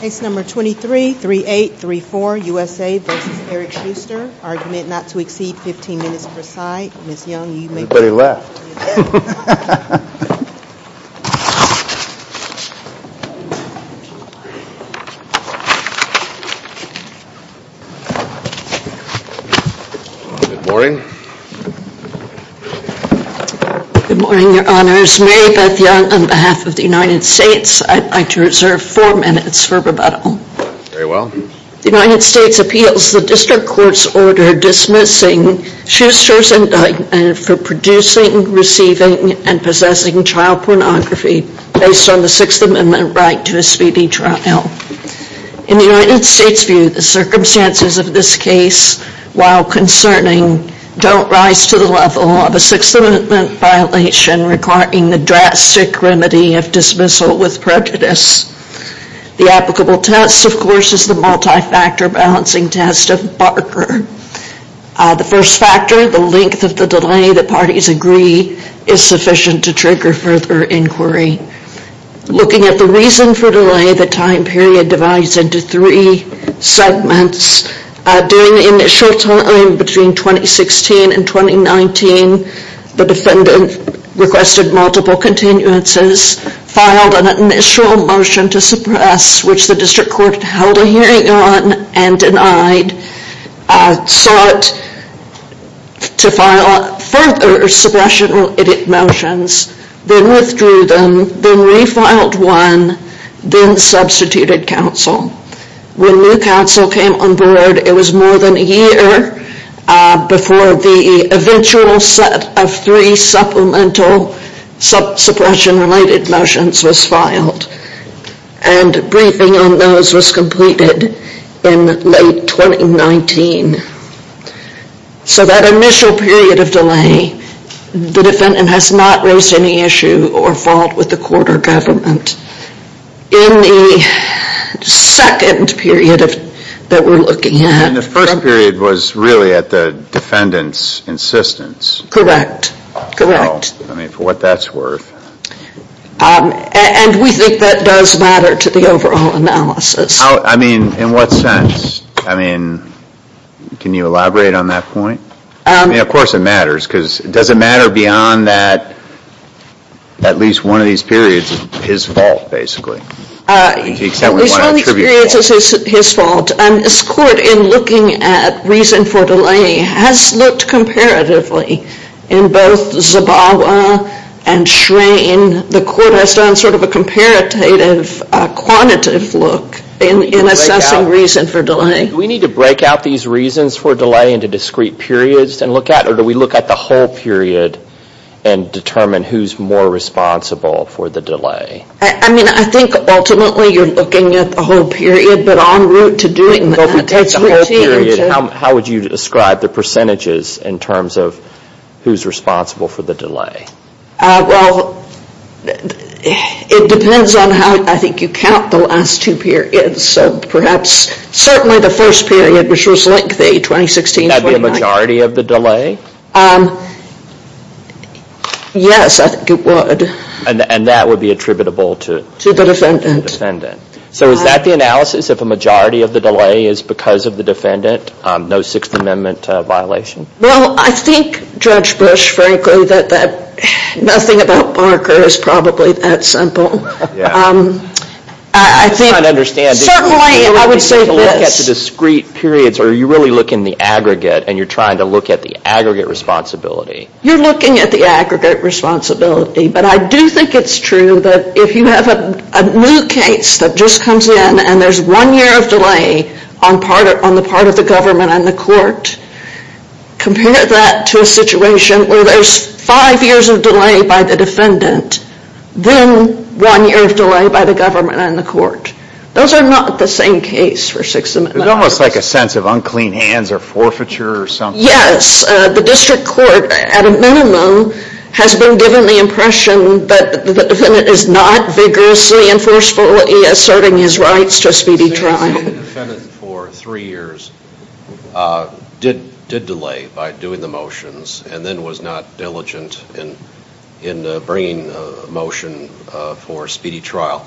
Case number 23-38-34 USA v. Eric Schuster. Argument not to exceed 15 minutes per side. Ms. Young, you may begin. Everybody left. Good morning. Good morning, Your Honors. Mary Beth Young on behalf of the United States. I'd like to reserve four minutes for rebuttal. Very well. The United States appeals the district court's order dismissing Schuster's indictment for producing, receiving, and possessing child pornography based on the Sixth Amendment right to a speedy trial. In the United States' view, the circumstances of this case, while concerning, don't rise to the level of a Sixth Amendment violation requiring the drastic remedy of dismissal with prejudice. The applicable test, of course, is the multi-factor balancing test of Barker. The first factor, the length of the delay the parties agree is sufficient to trigger further inquiry. Looking at the reason for delay, the time period divides into three segments. During the initial time between 2016 and 2019, the defendant requested multiple continuances, filed an initial motion to suppress, which the district court held a hearing on and denied, sought to file further suppression edit motions, then withdrew them, then refiled one, then substituted counsel. When new counsel came on board, it was more than a year before the eventual set of three supplemental suppression-related motions was filed. And briefing on those was completed in late 2019. So that initial period of delay, the defendant has not raised any issue or fault with the court or government. In the second period that we're looking at... And the first period was really at the defendant's insistence. Correct, correct. I mean, for what that's worth. And we think that does matter to the overall analysis. I mean, in what sense? I mean, can you elaborate on that point? I mean, of course it matters, because does it matter beyond that at least one of these periods is his fault, basically? At least one of these periods is his fault. And this court, in looking at reason for delay, has looked comparatively in both Zabawa and Shrain. The court has done sort of a comparative, quantitative look in assessing reason for delay. Do we need to break out these reasons for delay into discrete periods and look at it, or do we look at the whole period and determine who's more responsible for the delay? I mean, I think ultimately you're looking at the whole period, but en route to doing that... If we take the whole period, how would you describe the percentages in terms of who's responsible for the delay? Well, it depends on how, I think, you count the last two periods. So perhaps, certainly the first period, which was lengthy, 2016-2019... Would that be a majority of the delay? Yes, I think it would. And that would be attributable to... The defendant. So is that the analysis, if a majority of the delay is because of the defendant, no Sixth Amendment violation? Well, I think, Judge Bush, frankly, that nothing about Barker is probably that simple. I think... I'm trying to understand. Certainly, I would say this... Do you really take a look at the discrete periods, or are you really looking at the aggregate, and you're trying to look at the aggregate responsibility? You're looking at the aggregate responsibility. But I do think it's true that if you have a new case that just comes in, and there's one year of delay on the part of the government and the court, compare that to a situation where there's five years of delay by the defendant, then one year of delay by the government and the court. Those are not the same case for Sixth Amendment. It's almost like a sense of unclean hands or forfeiture or something. Yes. The district court, at a minimum, has been given the impression that the defendant is not vigorously and forcefully asserting his rights to a speedy trial. The defendant for three years did delay by doing the motions and then was not diligent in bringing a motion for a speedy trial.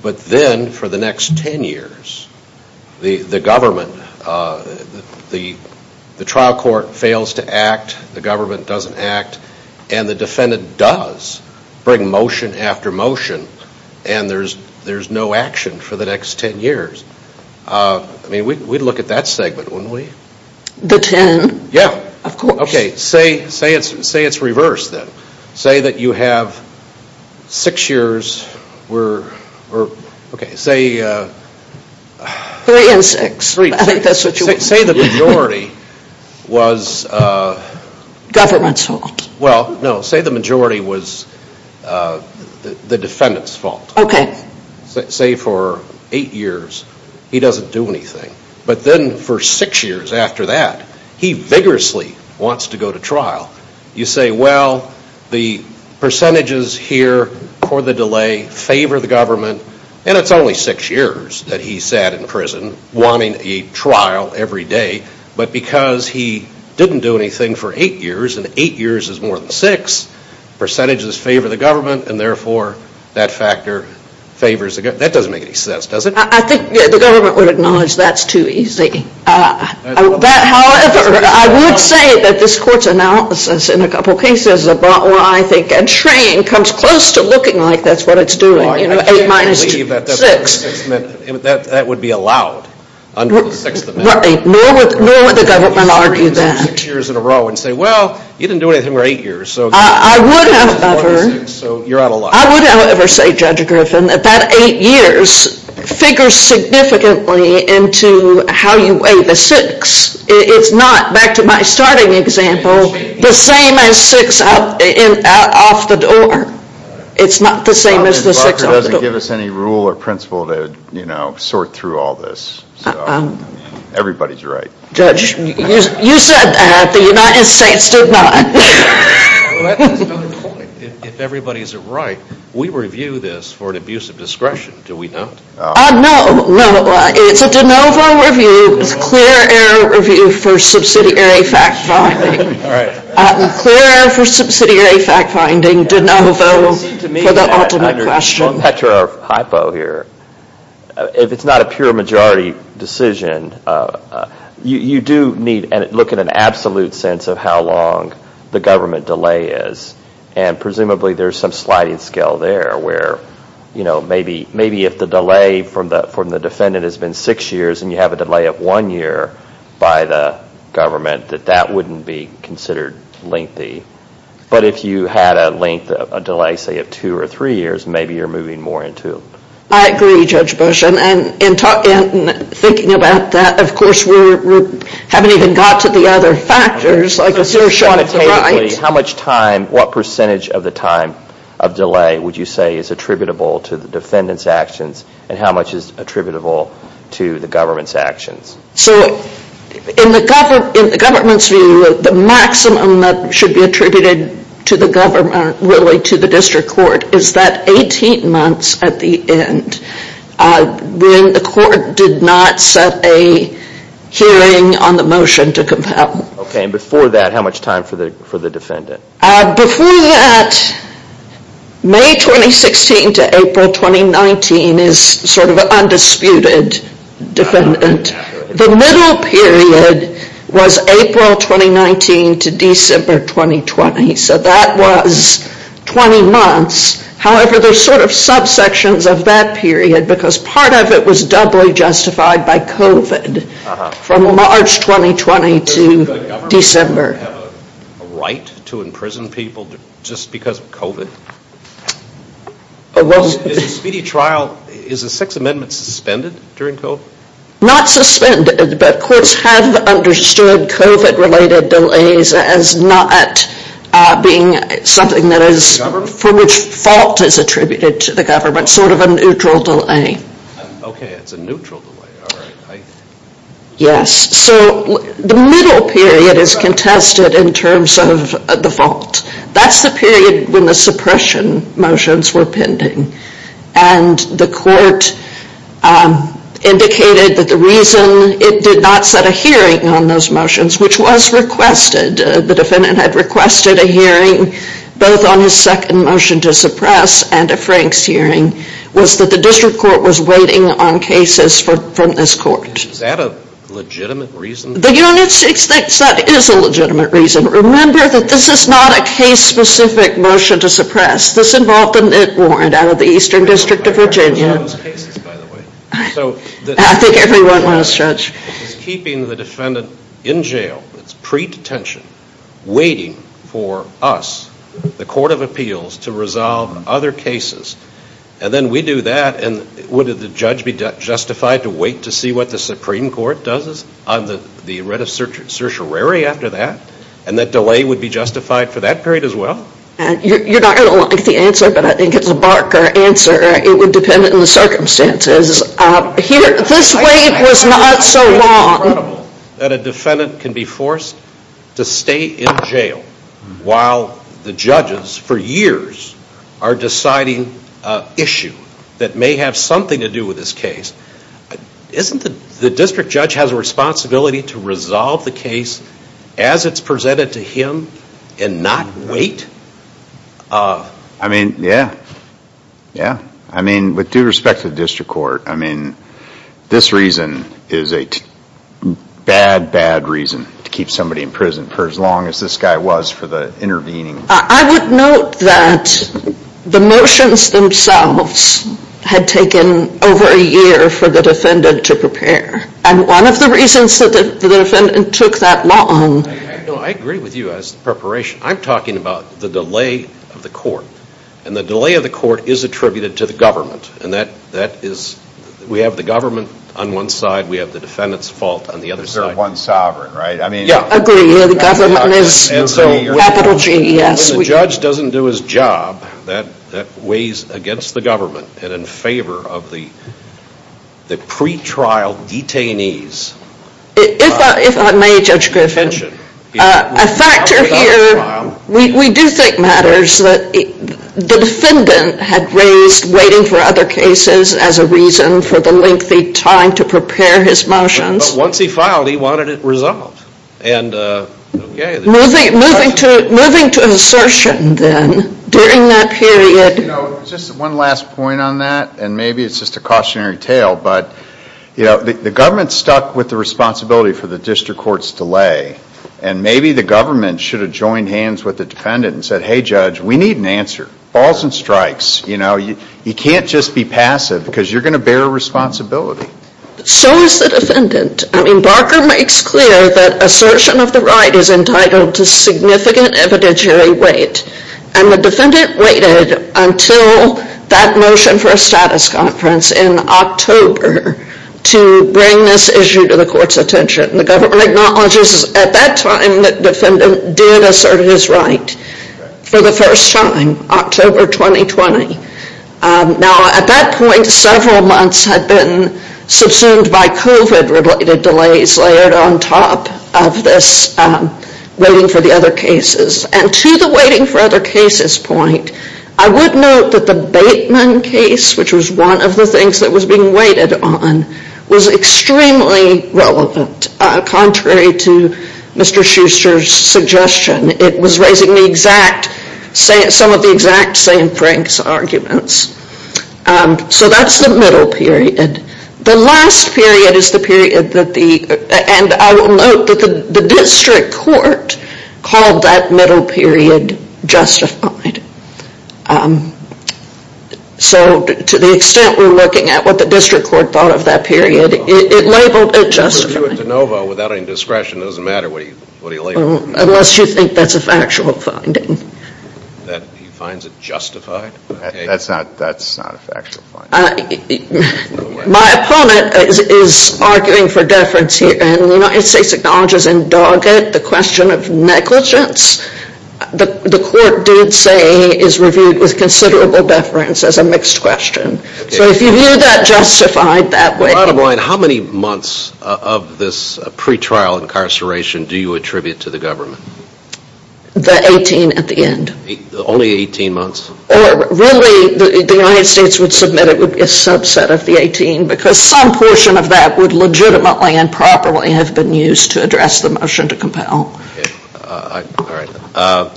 But then, for the next ten years, the government, the trial court fails to act, the government doesn't act, and the defendant does bring motion after motion, and there's no action for the next ten years. I mean, we'd look at that segment, wouldn't we? The ten? Yes. Of course. Okay, say it's reversed then. Say that you have six years where, okay, say... Three and six, I think that's what you want. Say the majority was... Government's fault. Well, no, say the majority was the defendant's fault. Okay. Say for eight years he doesn't do anything, but then for six years after that he vigorously wants to go to trial. You say, well, the percentages here for the delay favor the government, and it's only six years that he sat in prison wanting a trial every day, but because he didn't do anything for eight years, and eight years is more than six, percentages favor the government, and therefore that factor favors the government. That doesn't make any sense, does it? I think the government would acknowledge that's too easy. However, I would say that this Court's analysis in a couple of cases about why I think entraining comes close to looking like that's what it's doing, you know, eight minus six. I can't believe that that would be allowed under the Sixth Amendment. Nor would the government argue that. You can say six years in a row and say, well, you didn't do anything for eight years. I would have never. So you're out of luck. I would, however, say, Judge Griffin, that that eight years figures significantly into how you weigh the six. It's not, back to my starting example, the same as six off the door. It's not the same as the six off the door. The law doesn't give us any rule or principle to, you know, sort through all this. Everybody's right. Judge, you said that. The United States did not. Well, that's another point. If everybody's right, we review this for an abuse of discretion, do we not? No, no. It's a de novo review. It's a clear error review for subsidiary fact-finding. All right. Clear for subsidiary fact-finding, de novo for the ultimate question. Well, let's picture our hypo here. If it's not a pure majority decision, you do need to look at an absolute sense of how long the government delay is. And presumably there's some sliding scale there where, you know, maybe if the delay from the defendant has been six years and you have a delay of one year by the government, that that wouldn't be considered lengthy. But if you had a length of a delay, say, of two or three years, maybe you're moving more into it. I agree, Judge Bush. And in thinking about that, of course, we haven't even got to the other factors. I guess you're short of the right. How much time, what percentage of the time of delay would you say is attributable to the defendant's actions and how much is attributable to the government's actions? So in the government's view, the maximum that should be attributed to the government, really to the district court, is that 18 months at the end when the court did not set a hearing on the motion to compel. Okay. And before that, how much time for the defendant? Before that, May 2016 to April 2019 is sort of an undisputed defendant. The middle period was April 2019 to December 2020. So that was 20 months. However, there's sort of subsections of that period because part of it was doubly justified by COVID from March 2020 to December. Do you have a right to imprison people just because of COVID? Is a speedy trial, is a Sixth Amendment suspended during COVID? Not suspended, but courts have understood COVID-related delays as not being something that is, for which fault is attributed to the government, sort of a neutral delay. Okay, it's a neutral delay. Yes. So the middle period is contested in terms of the fault. That's the period when the suppression motions were pending. And the court indicated that the reason it did not set a hearing on those motions, which was requested, the defendant had requested a hearing, both on his second motion to suppress and a Frank's hearing, was that the district court was waiting on cases from this court. Is that a legitimate reason? The United States thinks that is a legitimate reason. Remember that this is not a case-specific motion to suppress. This involved a net warrant out of the Eastern District of Virginia. I think everyone was, Judge. It's keeping the defendant in jail. It's pre-detention, waiting for us, the Court of Appeals, to resolve other cases. And then we do that, and would the judge be justified to wait to see what the Supreme Court does on the writ of certiorari after that? And that delay would be justified for that period as well? You're not going to like the answer, but I think it's a barker answer. It would depend on the circumstances. This wait was not so long. It's incredible that a defendant can be forced to stay in jail while the judges for years are deciding an issue that may have something to do with this case. Isn't the district judge has a responsibility to resolve the case as it's presented to him and not wait? I mean, yeah. Yeah. I mean, with due respect to the District Court, I mean, this reason is a bad, bad reason to keep somebody in prison for as long as this guy was for intervening. I would note that the motions themselves had taken over a year for the defendant to prepare. And one of the reasons that the defendant took that long... No, I agree with you as to preparation. I'm talking about the delay of the court. And the delay of the court is attributed to the government. And we have the government on one side. We have the defendant's fault on the other side. Because they're one sovereign, right? Yeah, I agree. The government is the capital G, yes. If the judge doesn't do his job, that weighs against the government and in favor of the pretrial detainees. If I may, Judge Griffin, a factor here, we do think matters that the defendant had raised waiting for other cases as a reason for the lengthy time to prepare his motions. But once he filed, he wanted it resolved. Moving to an assertion then, during that period... Just one last point on that, and maybe it's just a cautionary tale, but the government stuck with the responsibility for the district court's delay. And maybe the government should have joined hands with the defendant and said, hey, Judge, we need an answer. Balls and strikes. You can't just be passive because you're going to bear responsibility. So is the defendant. Barker makes clear that assertion of the right is entitled to significant evidentiary weight. And the defendant waited until that motion for a status conference in October to bring this issue to the court's attention. The government acknowledges at that time that the defendant did assert his right for the first time, October 2020. Now, at that point, several months had been subsumed by COVID-related delays layered on top of this waiting for the other cases. And to the waiting for other cases point, I would note that the Bateman case, which was one of the things that was being waited on, was extremely relevant contrary to Mr. Schuster's suggestion. It was raising some of the exact same Frank's arguments. So that's the middle period. The last period is the period that the... And I will note that the district court called that middle period justified. So to the extent we're looking at what the district court thought of that period, it labeled it justified. Without any discretion, it doesn't matter what he labeled it. Unless you think that's a factual finding. That he finds it justified? That's not a factual finding. My opponent is arguing for deference here. And the United States acknowledges in Doggett the question of negligence. The court did say it is reviewed with considerable deference as a mixed question. So if you view that justified that way... Bottom line, how many months of this pretrial incarceration do you attribute to the government? The 18 at the end. Only 18 months? Really, the United States would submit it would be a subset of the 18 because some portion of that would legitimately and properly have been used to address the motion to compel. All right.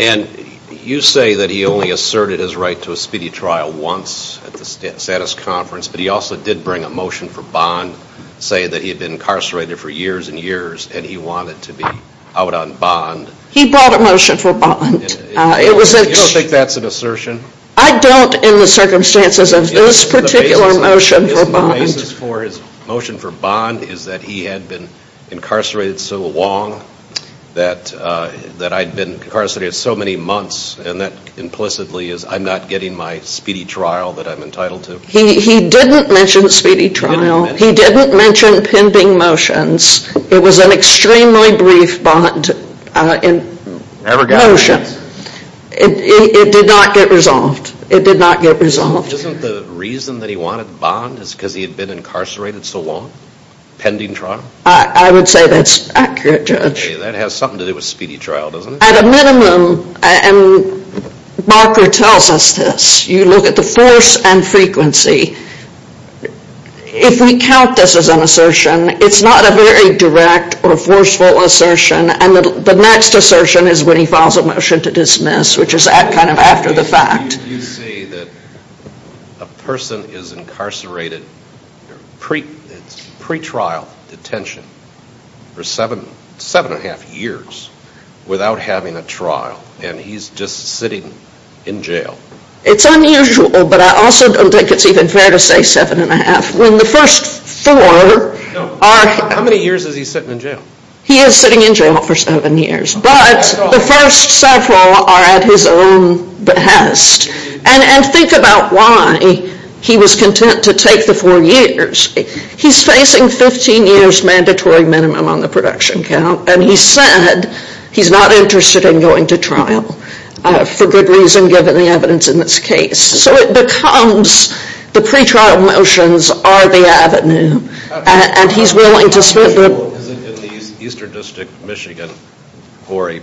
And you say that he only asserted his right to a speedy trial once at the status conference, but he also did bring a motion for bond, saying that he had been incarcerated for years and years and he wanted to be out on bond. He brought a motion for bond. You don't think that's an assertion? I don't in the circumstances of this particular motion for bond. Isn't the basis for his motion for bond is that he had been incarcerated so long that I'd been incarcerated so many months and that implicitly is I'm not getting my speedy trial that I'm entitled to? He didn't mention speedy trial. He didn't mention pending motions. It was an extremely brief bond motion. It did not get resolved. It did not get resolved. Isn't the reason that he wanted bond is because he had been incarcerated so long? Pending trial? I would say that's accurate, Judge. That has something to do with speedy trial, doesn't it? At a minimum, and Barker tells us this, you look at the force and frequency. If we count this as an assertion, it's not a very direct or forceful assertion, and the next assertion is when he files a motion to dismiss, which is kind of after the fact. You say that a person is incarcerated pre-trial detention for seven and a half years without having a trial, and he's just sitting in jail. It's unusual, but I also don't think it's even fair to say seven and a half. When the first four are— How many years is he sitting in jail? He is sitting in jail for seven years, but the first several are at his own behest. And think about why he was content to take the four years. He's facing 15 years mandatory minimum on the production count, and he said he's not interested in going to trial for good reason given the evidence in this case. So it becomes the pre-trial motions are the avenue, and he's willing to— Is it unusual in the Eastern District of Michigan for a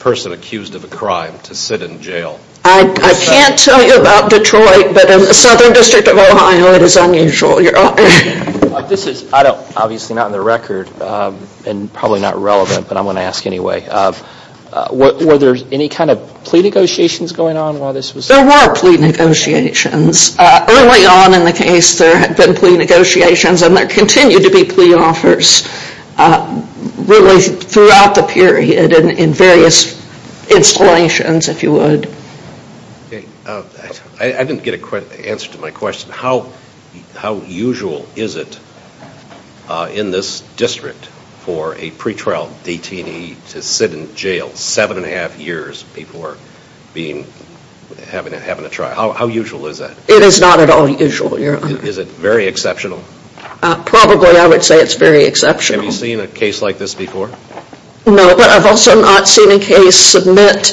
person accused of a crime to sit in jail? I can't tell you about Detroit, but in the Southern District of Ohio, it is unusual. This is obviously not in the record and probably not relevant, but I'm going to ask anyway. Were there any kind of plea negotiations going on while this was— There were plea negotiations. Early on in the case, there had been plea negotiations, and there continued to be plea offers really throughout the period in various installations, if you would. I didn't get an answer to my question. How usual is it in this district for a pre-trial detainee to sit in jail seven and a half years before having a trial? How usual is that? It is not at all usual, Your Honor. Is it very exceptional? Probably, I would say it's very exceptional. Have you seen a case like this before? No, but I've also not seen a case submit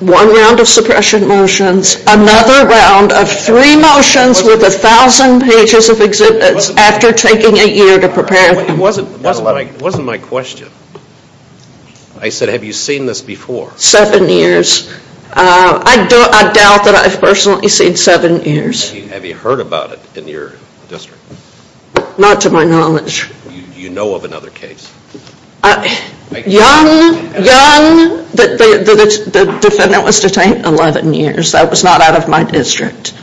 one round of suppression motions, another round of three motions with 1,000 pages of exhibits after taking a year to prepare them. It wasn't my question. I said, have you seen this before? Seven years. I doubt that I've personally seen seven years. Have you heard about it in your district? Not to my knowledge. You know of another case? Young, young, the defendant was detained 11 years. That was not out of my district.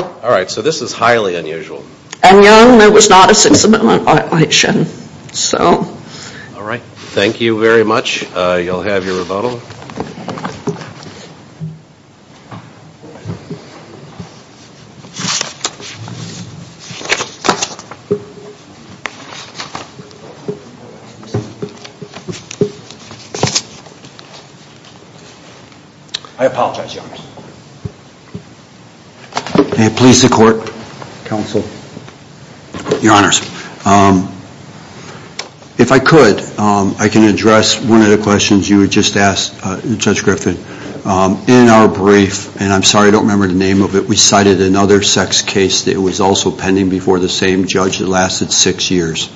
All right, so this is highly unusual. And young, there was not a six amendment violation. All right, thank you very much. You'll have your rebuttal. I apologize, Your Honor. May it please the court, counsel, Your Honors. If I could, I can address one of the questions you had just asked Judge Griffin. In our brief, and I'm sorry I don't remember the name of it, we cited another sex case that was also pending before the same judge that lasted six years.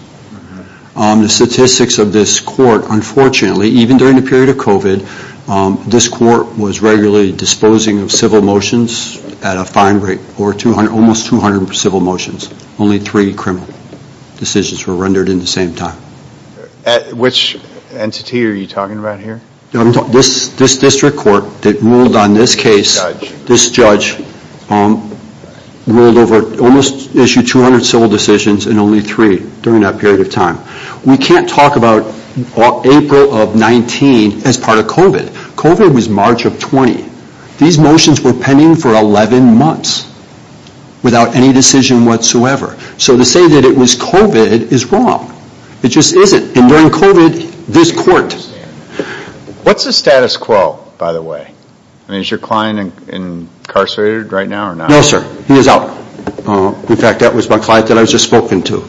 The statistics of this court, unfortunately, even during the period of COVID, this court was regularly disposing of civil motions at a fine rate, almost 200 civil motions. Only three criminal decisions were rendered in the same time. Which entity are you talking about here? This district court that ruled on this case. This judge ruled over, almost issued 200 civil decisions, and only three during that period of time. We can't talk about April of 19 as part of COVID. COVID was March of 20. These motions were pending for 11 months without any decision whatsoever. So to say that it was COVID is wrong. It just isn't. And during COVID, this court... What's the status quo, by the way? I mean, is your client incarcerated right now or not? No, sir. He is out. In fact, that was my client that I was just spoken to.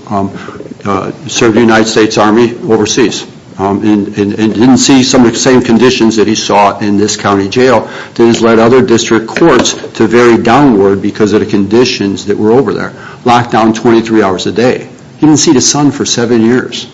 Served in the United States Army overseas. And didn't see some of the same conditions that he saw in this county jail. That has led other district courts to vary downward because of the conditions that were over there. Locked down 23 hours a day. He didn't see the sun for seven years.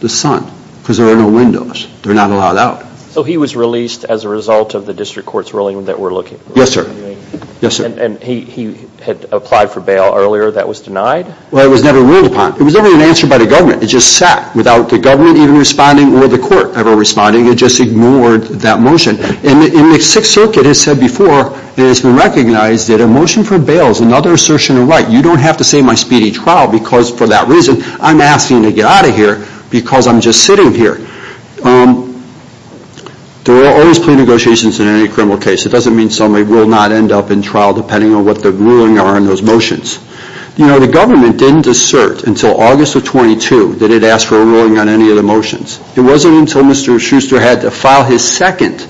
The sun. Because there are no windows. They're not allowed out. So he was released as a result of the district court's ruling that we're looking for? Yes, sir. And he had applied for bail earlier that was denied? Well, it was never ruled upon. It was never even answered by the government. It just sat without the government even responding or the court ever responding. It just ignored that motion. And the Sixth Circuit has said before, it has been recognized that a motion for bail is another assertion of right. You don't have to say my speedy trial because for that reason, I'm asking you to get out of here because I'm just sitting here. There are always plea negotiations in any criminal case. It doesn't mean somebody will not end up in trial depending on what the ruling are on those motions. You know, the government didn't assert until August of 22 that it asked for a ruling on any of the motions. It wasn't until Mr. Schuster had to file his second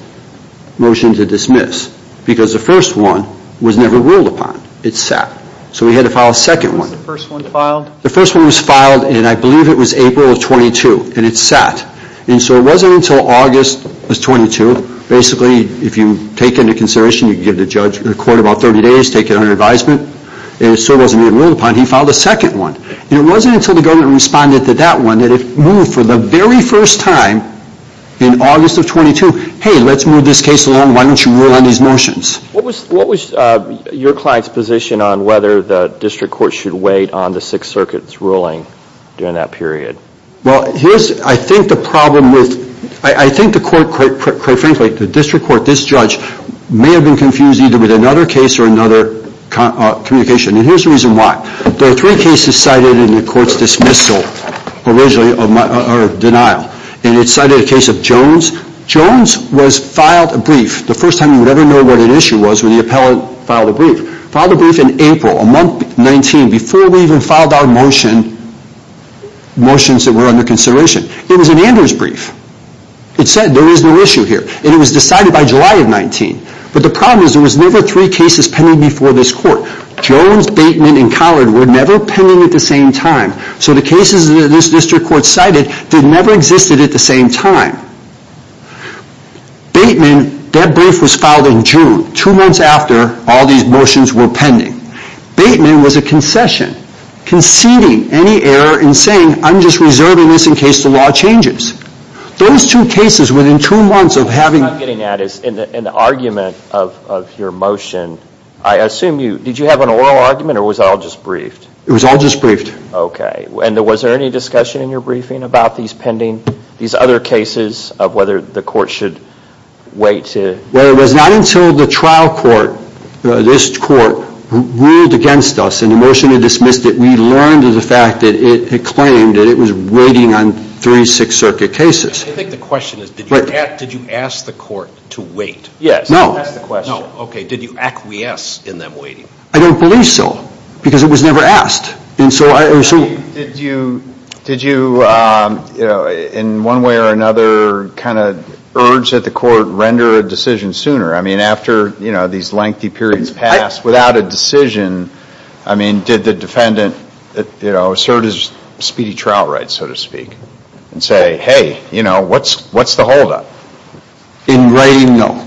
motion to dismiss because the first one was never ruled upon. It sat. So he had to file a second one. When was the first one filed? The first one was filed, and I believe it was April of 22. And it sat. And so it wasn't until August of 22, basically, if you take into consideration, you give the court about 30 days, take it under advisement, and it still wasn't ruled upon, he filed a second one. And it wasn't until the government responded to that one that it moved for the very first time in August of 22, hey, let's move this case along. Why don't you rule on these motions? What was your client's position on whether the district court should wait on the Sixth Circuit's ruling during that period? Well, I think the court, quite frankly, the district court, this judge, may have been confused either with another case or another communication. And here's the reason why. There are three cases cited in the court's dismissal, originally, or denial. And it cited a case of Jones. Jones was filed a brief the first time you would ever know what an issue was when the appellant filed a brief. Filed a brief in April, a month, 19, before we even filed our motion, motions that were under consideration. It was an Anders brief. It said there is no issue here. And it was decided by July of 19. But the problem is there was never three cases pending before this court. Jones, Bateman, and Collard were never pending at the same time. So the cases that this district court cited never existed at the same time. Bateman, that brief was filed in June, two months after all these motions were pending. Bateman was a concession, conceding any error in saying, I'm just reserving this in case the law changes. Those two cases within two months of having... What I'm getting at is in the argument of your motion, I assume you, did you have an oral argument or was it all just briefed? It was all just briefed. Okay. And was there any discussion in your briefing about these pending, these other cases of whether the court should wait to... Well, it was not until the trial court, this court, ruled against us and the motion was dismissed that we learned of the fact that it claimed that it was waiting on three Sixth Circuit cases. I think the question is, did you ask the court to wait? Yes. No. That's the question. Okay. Did you acquiesce in them waiting? I don't believe so because it was never asked. Did you, in one way or another, urge that the court render a decision sooner? I mean, after these lengthy periods passed, without a decision, did the defendant assert his speedy trial rights, so to speak, and say, hey, what's the holdup? In writing, no.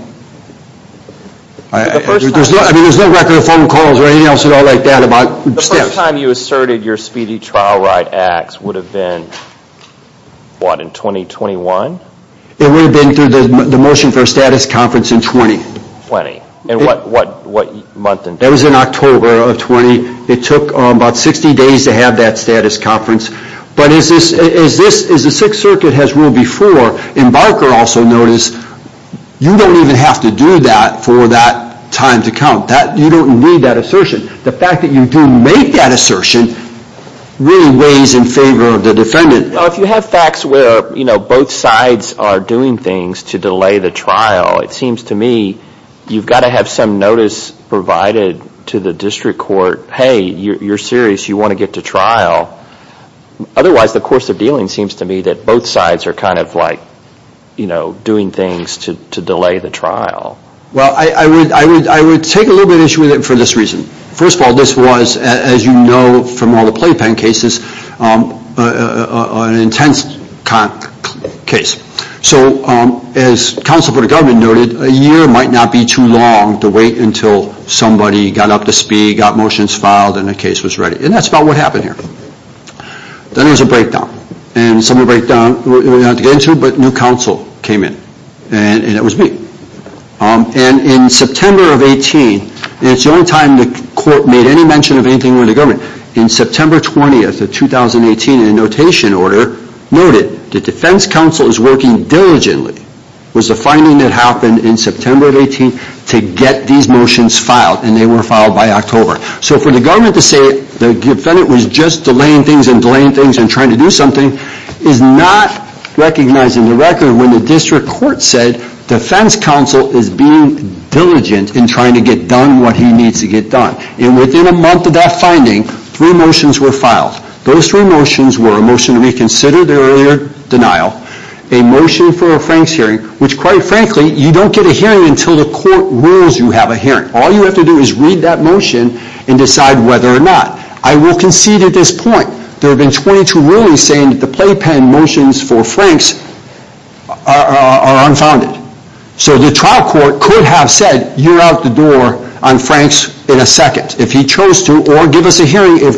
There's no record of phone calls or anything else at all like that about steps. The first time you asserted your speedy trial right acts would have been, what, in 2021? It would have been through the motion for a status conference in 20. 20. And what month and date? That was in October of 20. It took about 60 days to have that status conference. But as the Sixth Circuit has ruled before, Embarker also noticed, you don't even have to do that for that time to come. You don't need that assertion. The fact that you do make that assertion really weighs in favor of the defendant. If you have facts where both sides are doing things to delay the trial, it seems to me you've got to have some notice provided to the district court, hey, you're serious, you want to get to trial. Otherwise, the course of dealing seems to me that both sides are kind of like, you know, doing things to delay the trial. Well, I would take a little bit of issue with it for this reason. First of all, this was, as you know from all the playpen cases, an intense case. So as counsel for the government noted, a year might not be too long to wait until somebody got up to speed, got motions filed, and the case was ready. And that's about what happened here. Then there was a breakdown. And some of the breakdown we're not going to get into, but new counsel came in. And that was me. And in September of 18, and it's the only time the court made any mention of anything with the government, in September 20 of 2018, a notation order noted the defense counsel is working diligently. It was the finding that happened in September of 18 to get these motions filed. And they were filed by October. So for the government to say the defendant was just delaying things and delaying things and trying to do something is not recognizing the record when the district court said defense counsel is being diligent in trying to get done what he needs to get done. And within a month of that finding, three motions were filed. Those three motions were a motion to reconsider the earlier denial, a motion for a Franks hearing, which quite frankly you don't get a hearing until the court rules you have a hearing. All you have to do is read that motion and decide whether or not. I will concede at this point there have been 22 rulings saying that the playpen motions for Franks are unfounded. So the trial court could have said you're out the door on Franks in a second if he chose to or give us a hearing that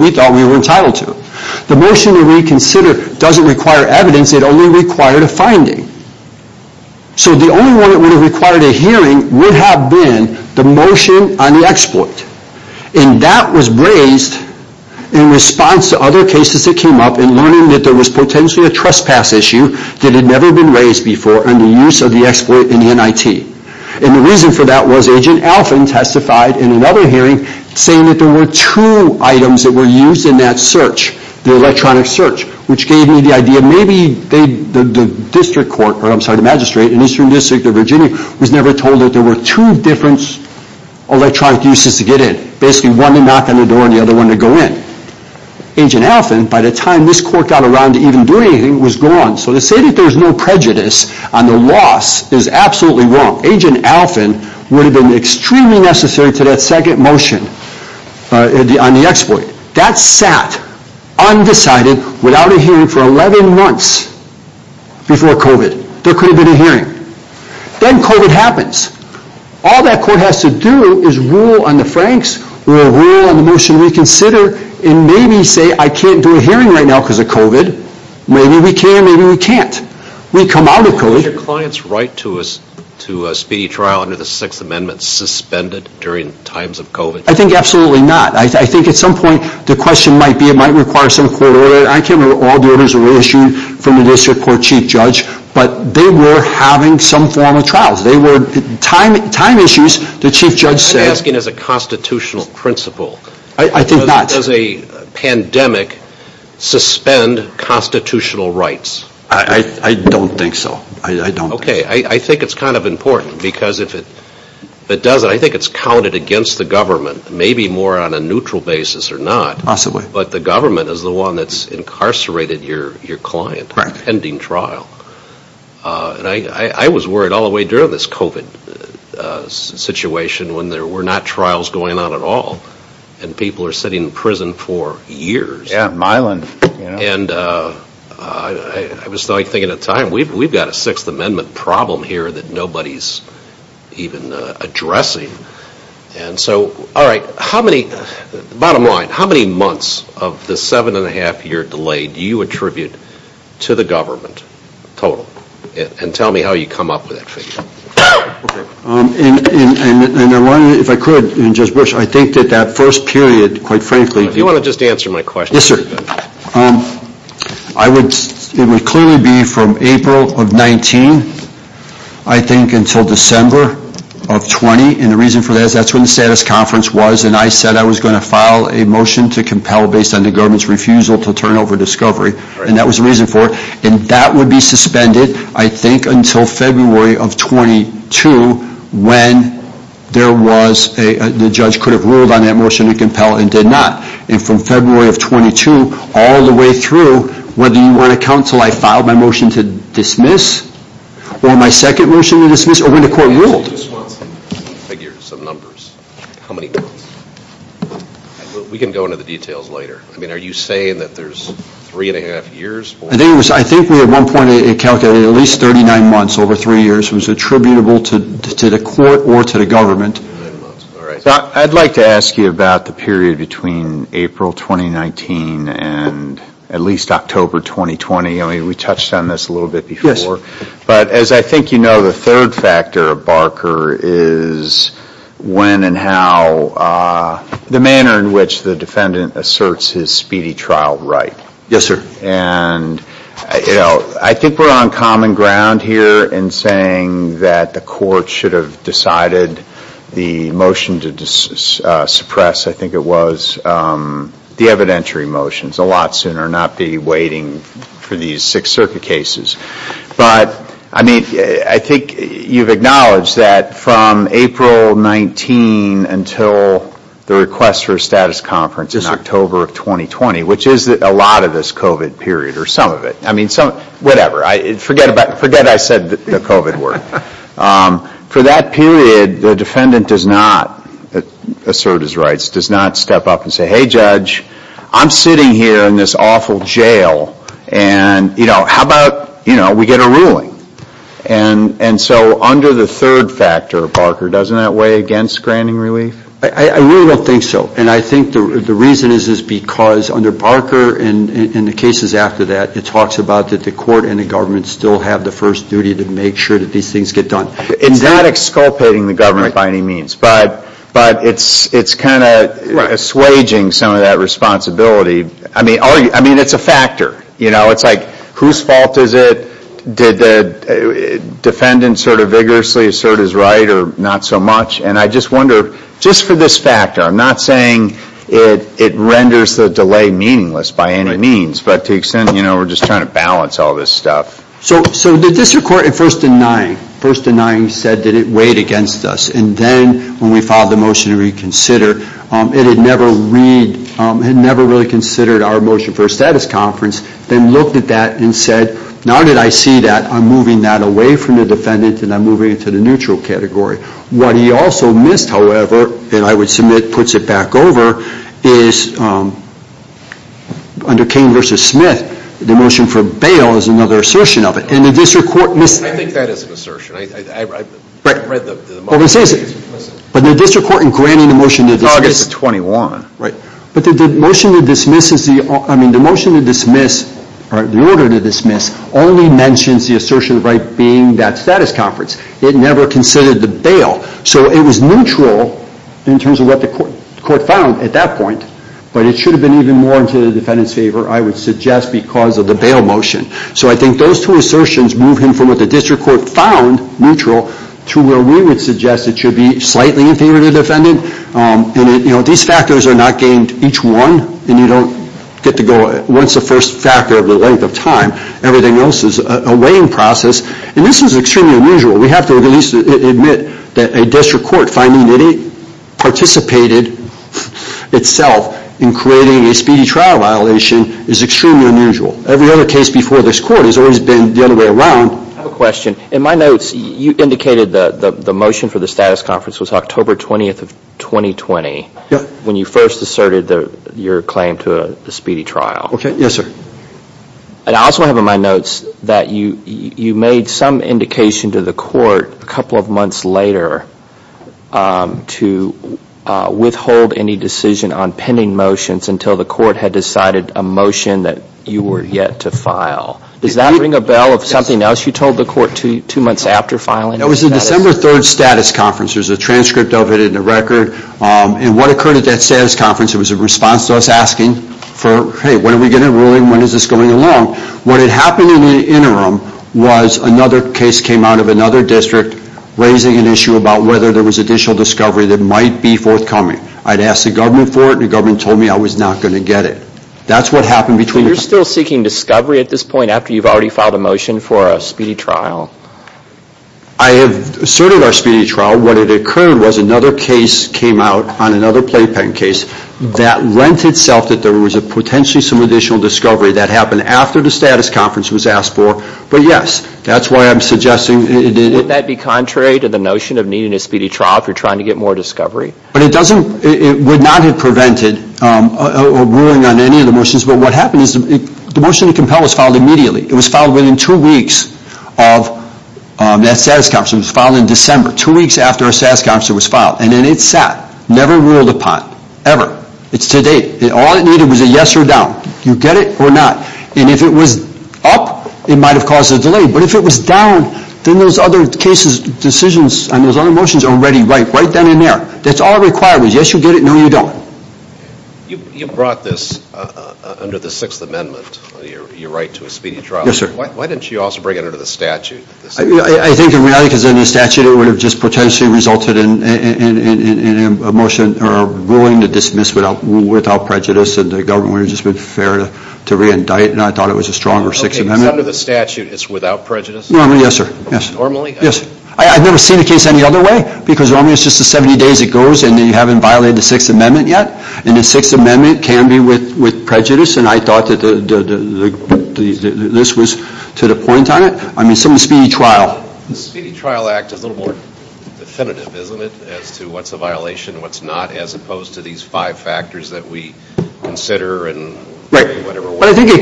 we thought we were entitled to. The motion to reconsider doesn't require evidence. It only required a finding. So the only one that would have required a hearing would have been the motion on the exploit. And that was raised in response to other cases that came up in learning that there was potentially a trespass issue that had never been raised before under use of the exploit in the NIT. And the reason for that was Agent Alfin testified in another hearing saying that there were two items that were used in that search, the electronic search, which gave me the idea maybe the district court, or I'm sorry the magistrate, in the Eastern District of Virginia was never told that there were two different electronic uses to get in. Basically one to knock on the door and the other one to go in. Agent Alfin, by the time this court got around to even doing anything, was gone. So to say that there was no prejudice on the loss is absolutely wrong. Agent Alfin would have been extremely necessary to that second motion on the exploit. That sat undecided without a hearing for 11 months before COVID. There could have been a hearing. Then COVID happens. All that court has to do is rule on the Franks or rule on the motion to reconsider and maybe say I can't do a hearing right now because of COVID. Maybe we can, maybe we can't. Is your client's right to a speedy trial under the Sixth Amendment suspended during times of COVID? I think absolutely not. I think at some point the question might be it might require some court order. I can't remember all the orders that were issued from the district court chief judge, but they were having some form of trials. They were time issues. The chief judge said I'm asking as a constitutional principle. I think not. Does a pandemic suspend constitutional rights? I don't think so. I don't. Okay, I think it's kind of important because if it doesn't, I think it's counted against the government. Maybe more on a neutral basis or not. But the government is the one that's incarcerated your client. Right. Pending trial. And I was worried all the way during this COVID situation when there were not trials going on at all. And people are sitting in prison for years. Yeah, Milan. And I was thinking at the time, we've got a Sixth Amendment problem here that nobody's even addressing. And so, all right, how many, bottom line, how many months of the seven and a half year delay do you attribute to the government total? And tell me how you come up with that figure. Okay. And if I could just wish, I think that that first period, quite frankly. Do you want to just answer my question? Yes, sir. I would, it would clearly be from April of 19, I think until December of 20. And the reason for that is that's when the status conference was. And I said I was going to file a motion to compel based on the government's refusal to turn over discovery. And that was the reason for it. And that would be suspended, I think, until February of 22, when there was a, the judge could have ruled on that motion to compel and did not. And from February of 22, all the way through, whether you want to counsel, I filed my motion to dismiss, or my second motion to dismiss, or when the court ruled. I just want some figures, some numbers. How many months? We can go into the details later. I mean, are you saying that there's three and a half years? I think it was, I think we at one point calculated at least 39 months over three years was attributable to the court or to the government. I'd like to ask you about the period between April 2019 and at least October 2020. I mean, we touched on this a little bit before. Yes, sir. But as I think you know, the third factor of Barker is when and how, the manner in which the defendant asserts his speedy trial right. Yes, sir. And, you know, I think we're on common ground here in saying that the court should have decided the motion to suppress, I think it was, the evidentiary motions a lot sooner, not be waiting for these Sixth Circuit cases. But, I mean, I think you've acknowledged that from April 19 until the request for a status conference in October of 2020, which is a lot of this COVID period or some of it. I mean, whatever, forget I said the COVID word. For that period, the defendant does not assert his rights, does not step up and say, hey judge, I'm sitting here in this awful jail and, you know, how about, you know, we get a ruling. And so under the third factor, Barker, doesn't that weigh against granting relief? I really don't think so. And I think the reason is because under Barker and the cases after that, it talks about that the court and the government still have the first duty to make sure that these things get done. It's not exculpating the government by any means. But it's kind of assuaging some of that responsibility. I mean, it's a factor. You know, it's like whose fault is it? Did the defendant sort of vigorously assert his right or not so much? And I just wonder, just for this factor, I'm not saying it renders the delay meaningless by any means, but to the extent, you know, we're just trying to balance all this stuff. So the district court at first denying, first denying said that it weighed against us. And then when we filed the motion to reconsider, it had never really considered our motion for a status conference, then looked at that and said, now that I see that, I'm moving that away from the defendant and I'm moving it to the neutral category. What he also missed, however, and I would submit puts it back over, is under Cain v. Smith, the motion for bail is another assertion of it. And the district court missed that. I think that is an assertion. I read the motion. But the district court in granting the motion to dismiss. Oh, I guess the 21. Right. But the motion to dismiss is the, I mean, the motion to dismiss, or the order to dismiss, only mentions the assertion of right being that status conference. It never considered the bail. So it was neutral in terms of what the court found at that point. But it should have been even more in the defendant's favor, I would suggest, because of the bail motion. So I think those two assertions move him from what the district court found neutral to where we would suggest it should be slightly in favor of the defendant. And, you know, these factors are not gained each one. And you don't get to go once the first factor of the length of time. Everything else is a weighing process. And this is extremely unusual. We have to at least admit that a district court finding that it participated itself in creating a speedy trial violation is extremely unusual. Every other case before this court has always been the other way around. I have a question. In my notes, you indicated the motion for the status conference was October 20th of 2020. Yeah. When you first asserted your claim to a speedy trial. Okay. Yes, sir. And I also have in my notes that you made some indication to the court a couple of months later to withhold any decision on pending motions until the court had decided a motion that you were yet to file. Does that ring a bell of something else you told the court two months after filing? It was the December 3rd status conference. There's a transcript of it and a record. And what occurred at that status conference, it was a response to us asking for, hey, when are we getting a ruling? When is this going along? What had happened in the interim was another case came out of another district raising an issue about whether there was additional discovery that might be forthcoming. I'd asked the government for it and the government told me I was not going to get it. That's what happened between the two. So you're still seeking discovery at this point after you've already filed a motion for a speedy trial? I have asserted our speedy trial. What had occurred was another case came out on another playpen case that lent itself that there was potentially some additional discovery that happened after the status conference was asked for. But, yes, that's why I'm suggesting. Wouldn't that be contrary to the notion of needing a speedy trial if you're trying to get more discovery? It would not have prevented a ruling on any of the motions. But what happened is the motion to compel was filed immediately. It was filed within two weeks of that status conference. It was filed in December, two weeks after a status conference was filed. And then it sat, never ruled upon, ever. It's to date. All it needed was a yes or down. You get it or not. And if it was up, it might have caused a delay. But if it was down, then those other cases, decisions, and those other motions are already right, right then and there. That's all required. Yes, you get it. No, you don't. You brought this under the Sixth Amendment, your right to a speedy trial. Yes, sir. Why didn't you also bring it under the statute? I think in reality, because under the statute, it would have just potentially resulted in a motion or a ruling to dismiss without prejudice. And the government would have just been fair to reindict. And I thought it was a stronger Sixth Amendment. Okay, because under the statute, it's without prejudice? Normally, yes, sir. Normally? Yes. I've never seen a case any other way. Because normally, it's just the 70 days it goes, and you haven't violated the Sixth Amendment yet. And the Sixth Amendment can be with prejudice. And I thought that this was to the point on it. I mean, some speedy trial. The Speedy Trial Act is a little more definitive, isn't it, as to what's a violation and what's not, as opposed to these five factors that we consider and whatever. But I think it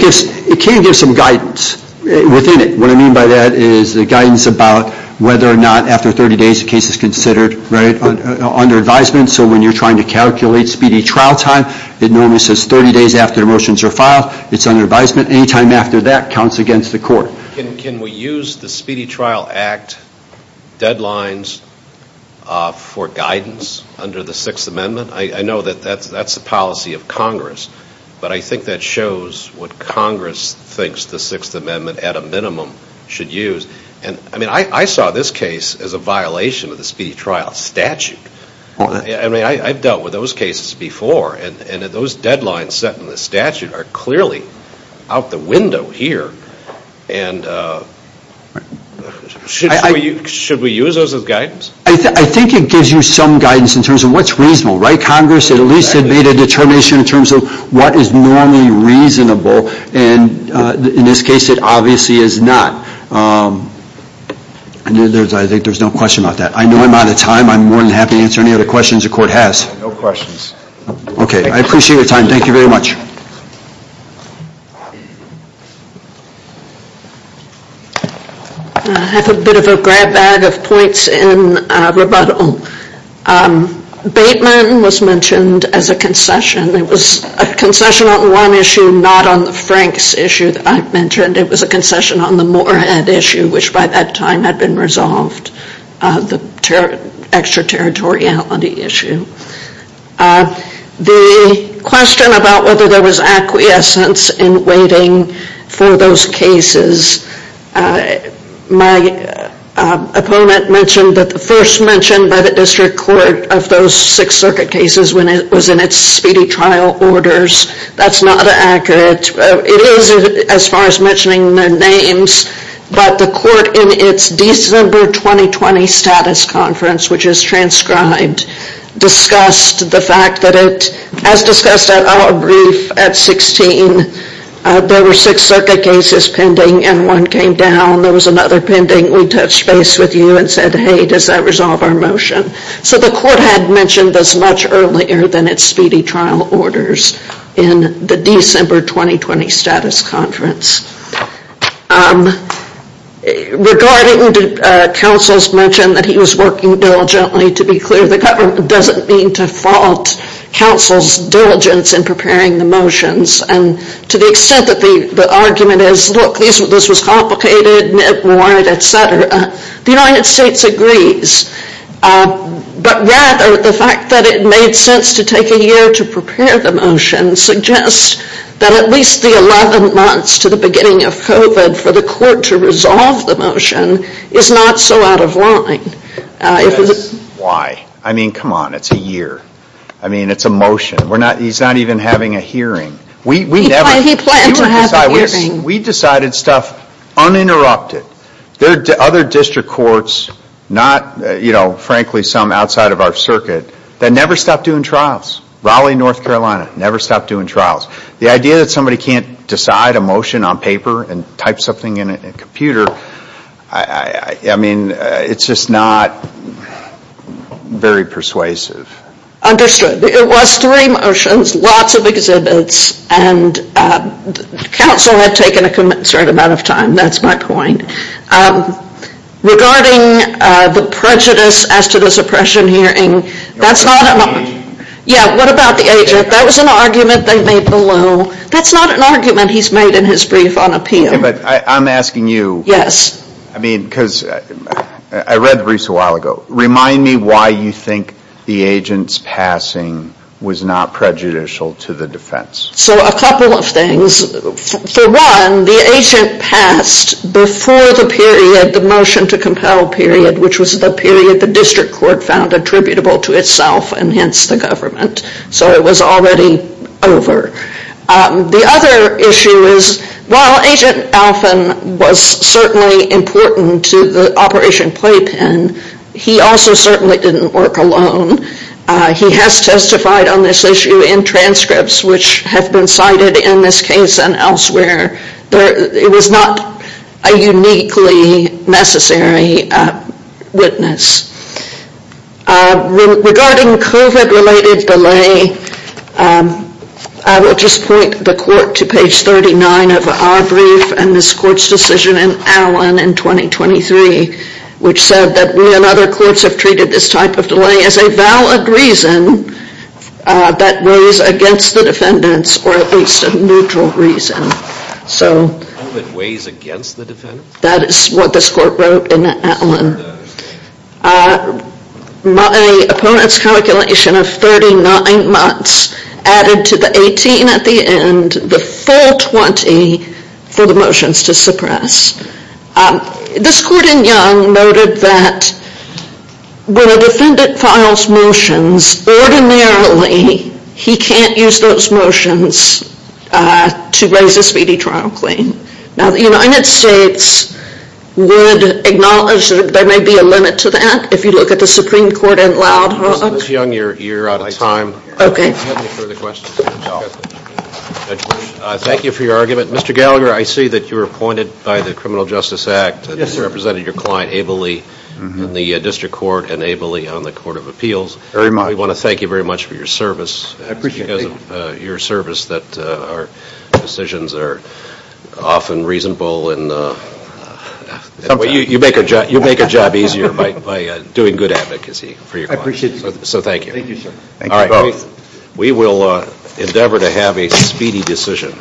can give some guidance within it. What I mean by that is the guidance about whether or not, after 30 days, the case is considered under advisement. So when you're trying to calculate speedy trial time, it normally says 30 days after the motions are filed, it's under advisement. Any time after that counts against the court. Can we use the Speedy Trial Act deadlines for guidance under the Sixth Amendment? I know that that's the policy of Congress. But I think that shows what Congress thinks the Sixth Amendment, at a minimum, should use. And, I mean, I saw this case as a violation of the Speedy Trial statute. I mean, I've dealt with those cases before. And those deadlines set in the statute are clearly out the window here. And should we use those as guidance? I think it gives you some guidance in terms of what's reasonable. Right, Congress? It at least had made a determination in terms of what is normally reasonable. And in this case, it obviously is not. I think there's no question about that. I know I'm out of time. I'm more than happy to answer any other questions the Court has. No questions. Okay. I appreciate your time. Thank you very much. I have a bit of a grab bag of points in rebuttal. Bateman was mentioned as a concession. It was a concession on one issue, not on the Franks issue that I mentioned. It was a concession on the Moorhead issue, which by that time had been resolved, the extraterritoriality issue. The question about whether there was acquiescence in waiting for those cases, my opponent mentioned that the first mention by the District Court of those Sixth Circuit cases was in its speedy trial orders. That's not accurate. It is as far as mentioning their names, but the Court in its December 2020 status conference, which is transcribed, discussed the fact that it, as discussed at our brief at 16, there were Sixth Circuit cases pending and one came down. There was another pending. We touched base with you and said, hey, does that resolve our motion? So the Court had mentioned this much earlier than its speedy trial orders in the December 2020 status conference. Regarding Counsel's mention that he was working diligently, to be clear, the government doesn't mean to fault Counsel's diligence in preparing the motions. And to the extent that the argument is, look, this was complicated, networked, et cetera, the United States agrees. But rather, the fact that it made sense to take a year to prepare the motions and suggest that at least the 11 months to the beginning of COVID for the Court to resolve the motion is not so out of line. Why? I mean, come on, it's a year. I mean, it's a motion. He's not even having a hearing. He planned to have a hearing. We decided stuff uninterrupted. There are other district courts, not, frankly, some outside of our circuit that never stopped doing trials. Raleigh, North Carolina, never stopped doing trials. The idea that somebody can't decide a motion on paper and type something in a computer, I mean, it's just not very persuasive. Understood. It was three motions, lots of exhibits, and Counsel had taken a certain amount of time, that's my point. Regarding the prejudice as to this oppression hearing, that's not an argument. Yeah, what about the agent? That was an argument they made below. That's not an argument he's made in his brief on appeal. Okay, but I'm asking you. Yes. I mean, because I read the briefs a while ago. Remind me why you think the agent's passing was not prejudicial to the defense. So a couple of things. For one, the agent passed before the period, the motion to compel period, which was the period the district court found attributable to itself and hence the government. So it was already over. The other issue is while Agent Alphon was certainly important to the Operation Playpen, he also certainly didn't work alone. He has testified on this issue in transcripts, which have been cited in this case and elsewhere. It was not a uniquely necessary witness. Regarding COVID-related delay, I will just point the court to page 39 of our brief and this court's decision in Allen in 2023, which said that we and other courts have treated this type of delay as a valid reason that weighs against the defendants or at least a neutral reason. COVID weighs against the defendants? That is what this court wrote in Allen. My opponent's calculation of 39 months added to the 18 at the end, the full 20 for the motions to suppress. This court in Young noted that when a defendant files motions, ordinarily he can't use those motions to raise a speedy trial claim. Now the United States would acknowledge that there may be a limit to that if you look at the Supreme Court in Loud Hook. Ms. Young, you're out of time. I have no further questions. Thank you for your argument. Mr. Gallagher, I see that you were appointed by the Criminal Justice Act and this represented your client ably in the District Court and ably on the Court of Appeals. Very much. We want to thank you very much for your service. I appreciate it. It's because of your service that our decisions are often reasonable. You make a job easier by doing good advocacy for your client. I appreciate it. So thank you. Thank you, sir. Thank you both. We will endeavor to have a speedy decision.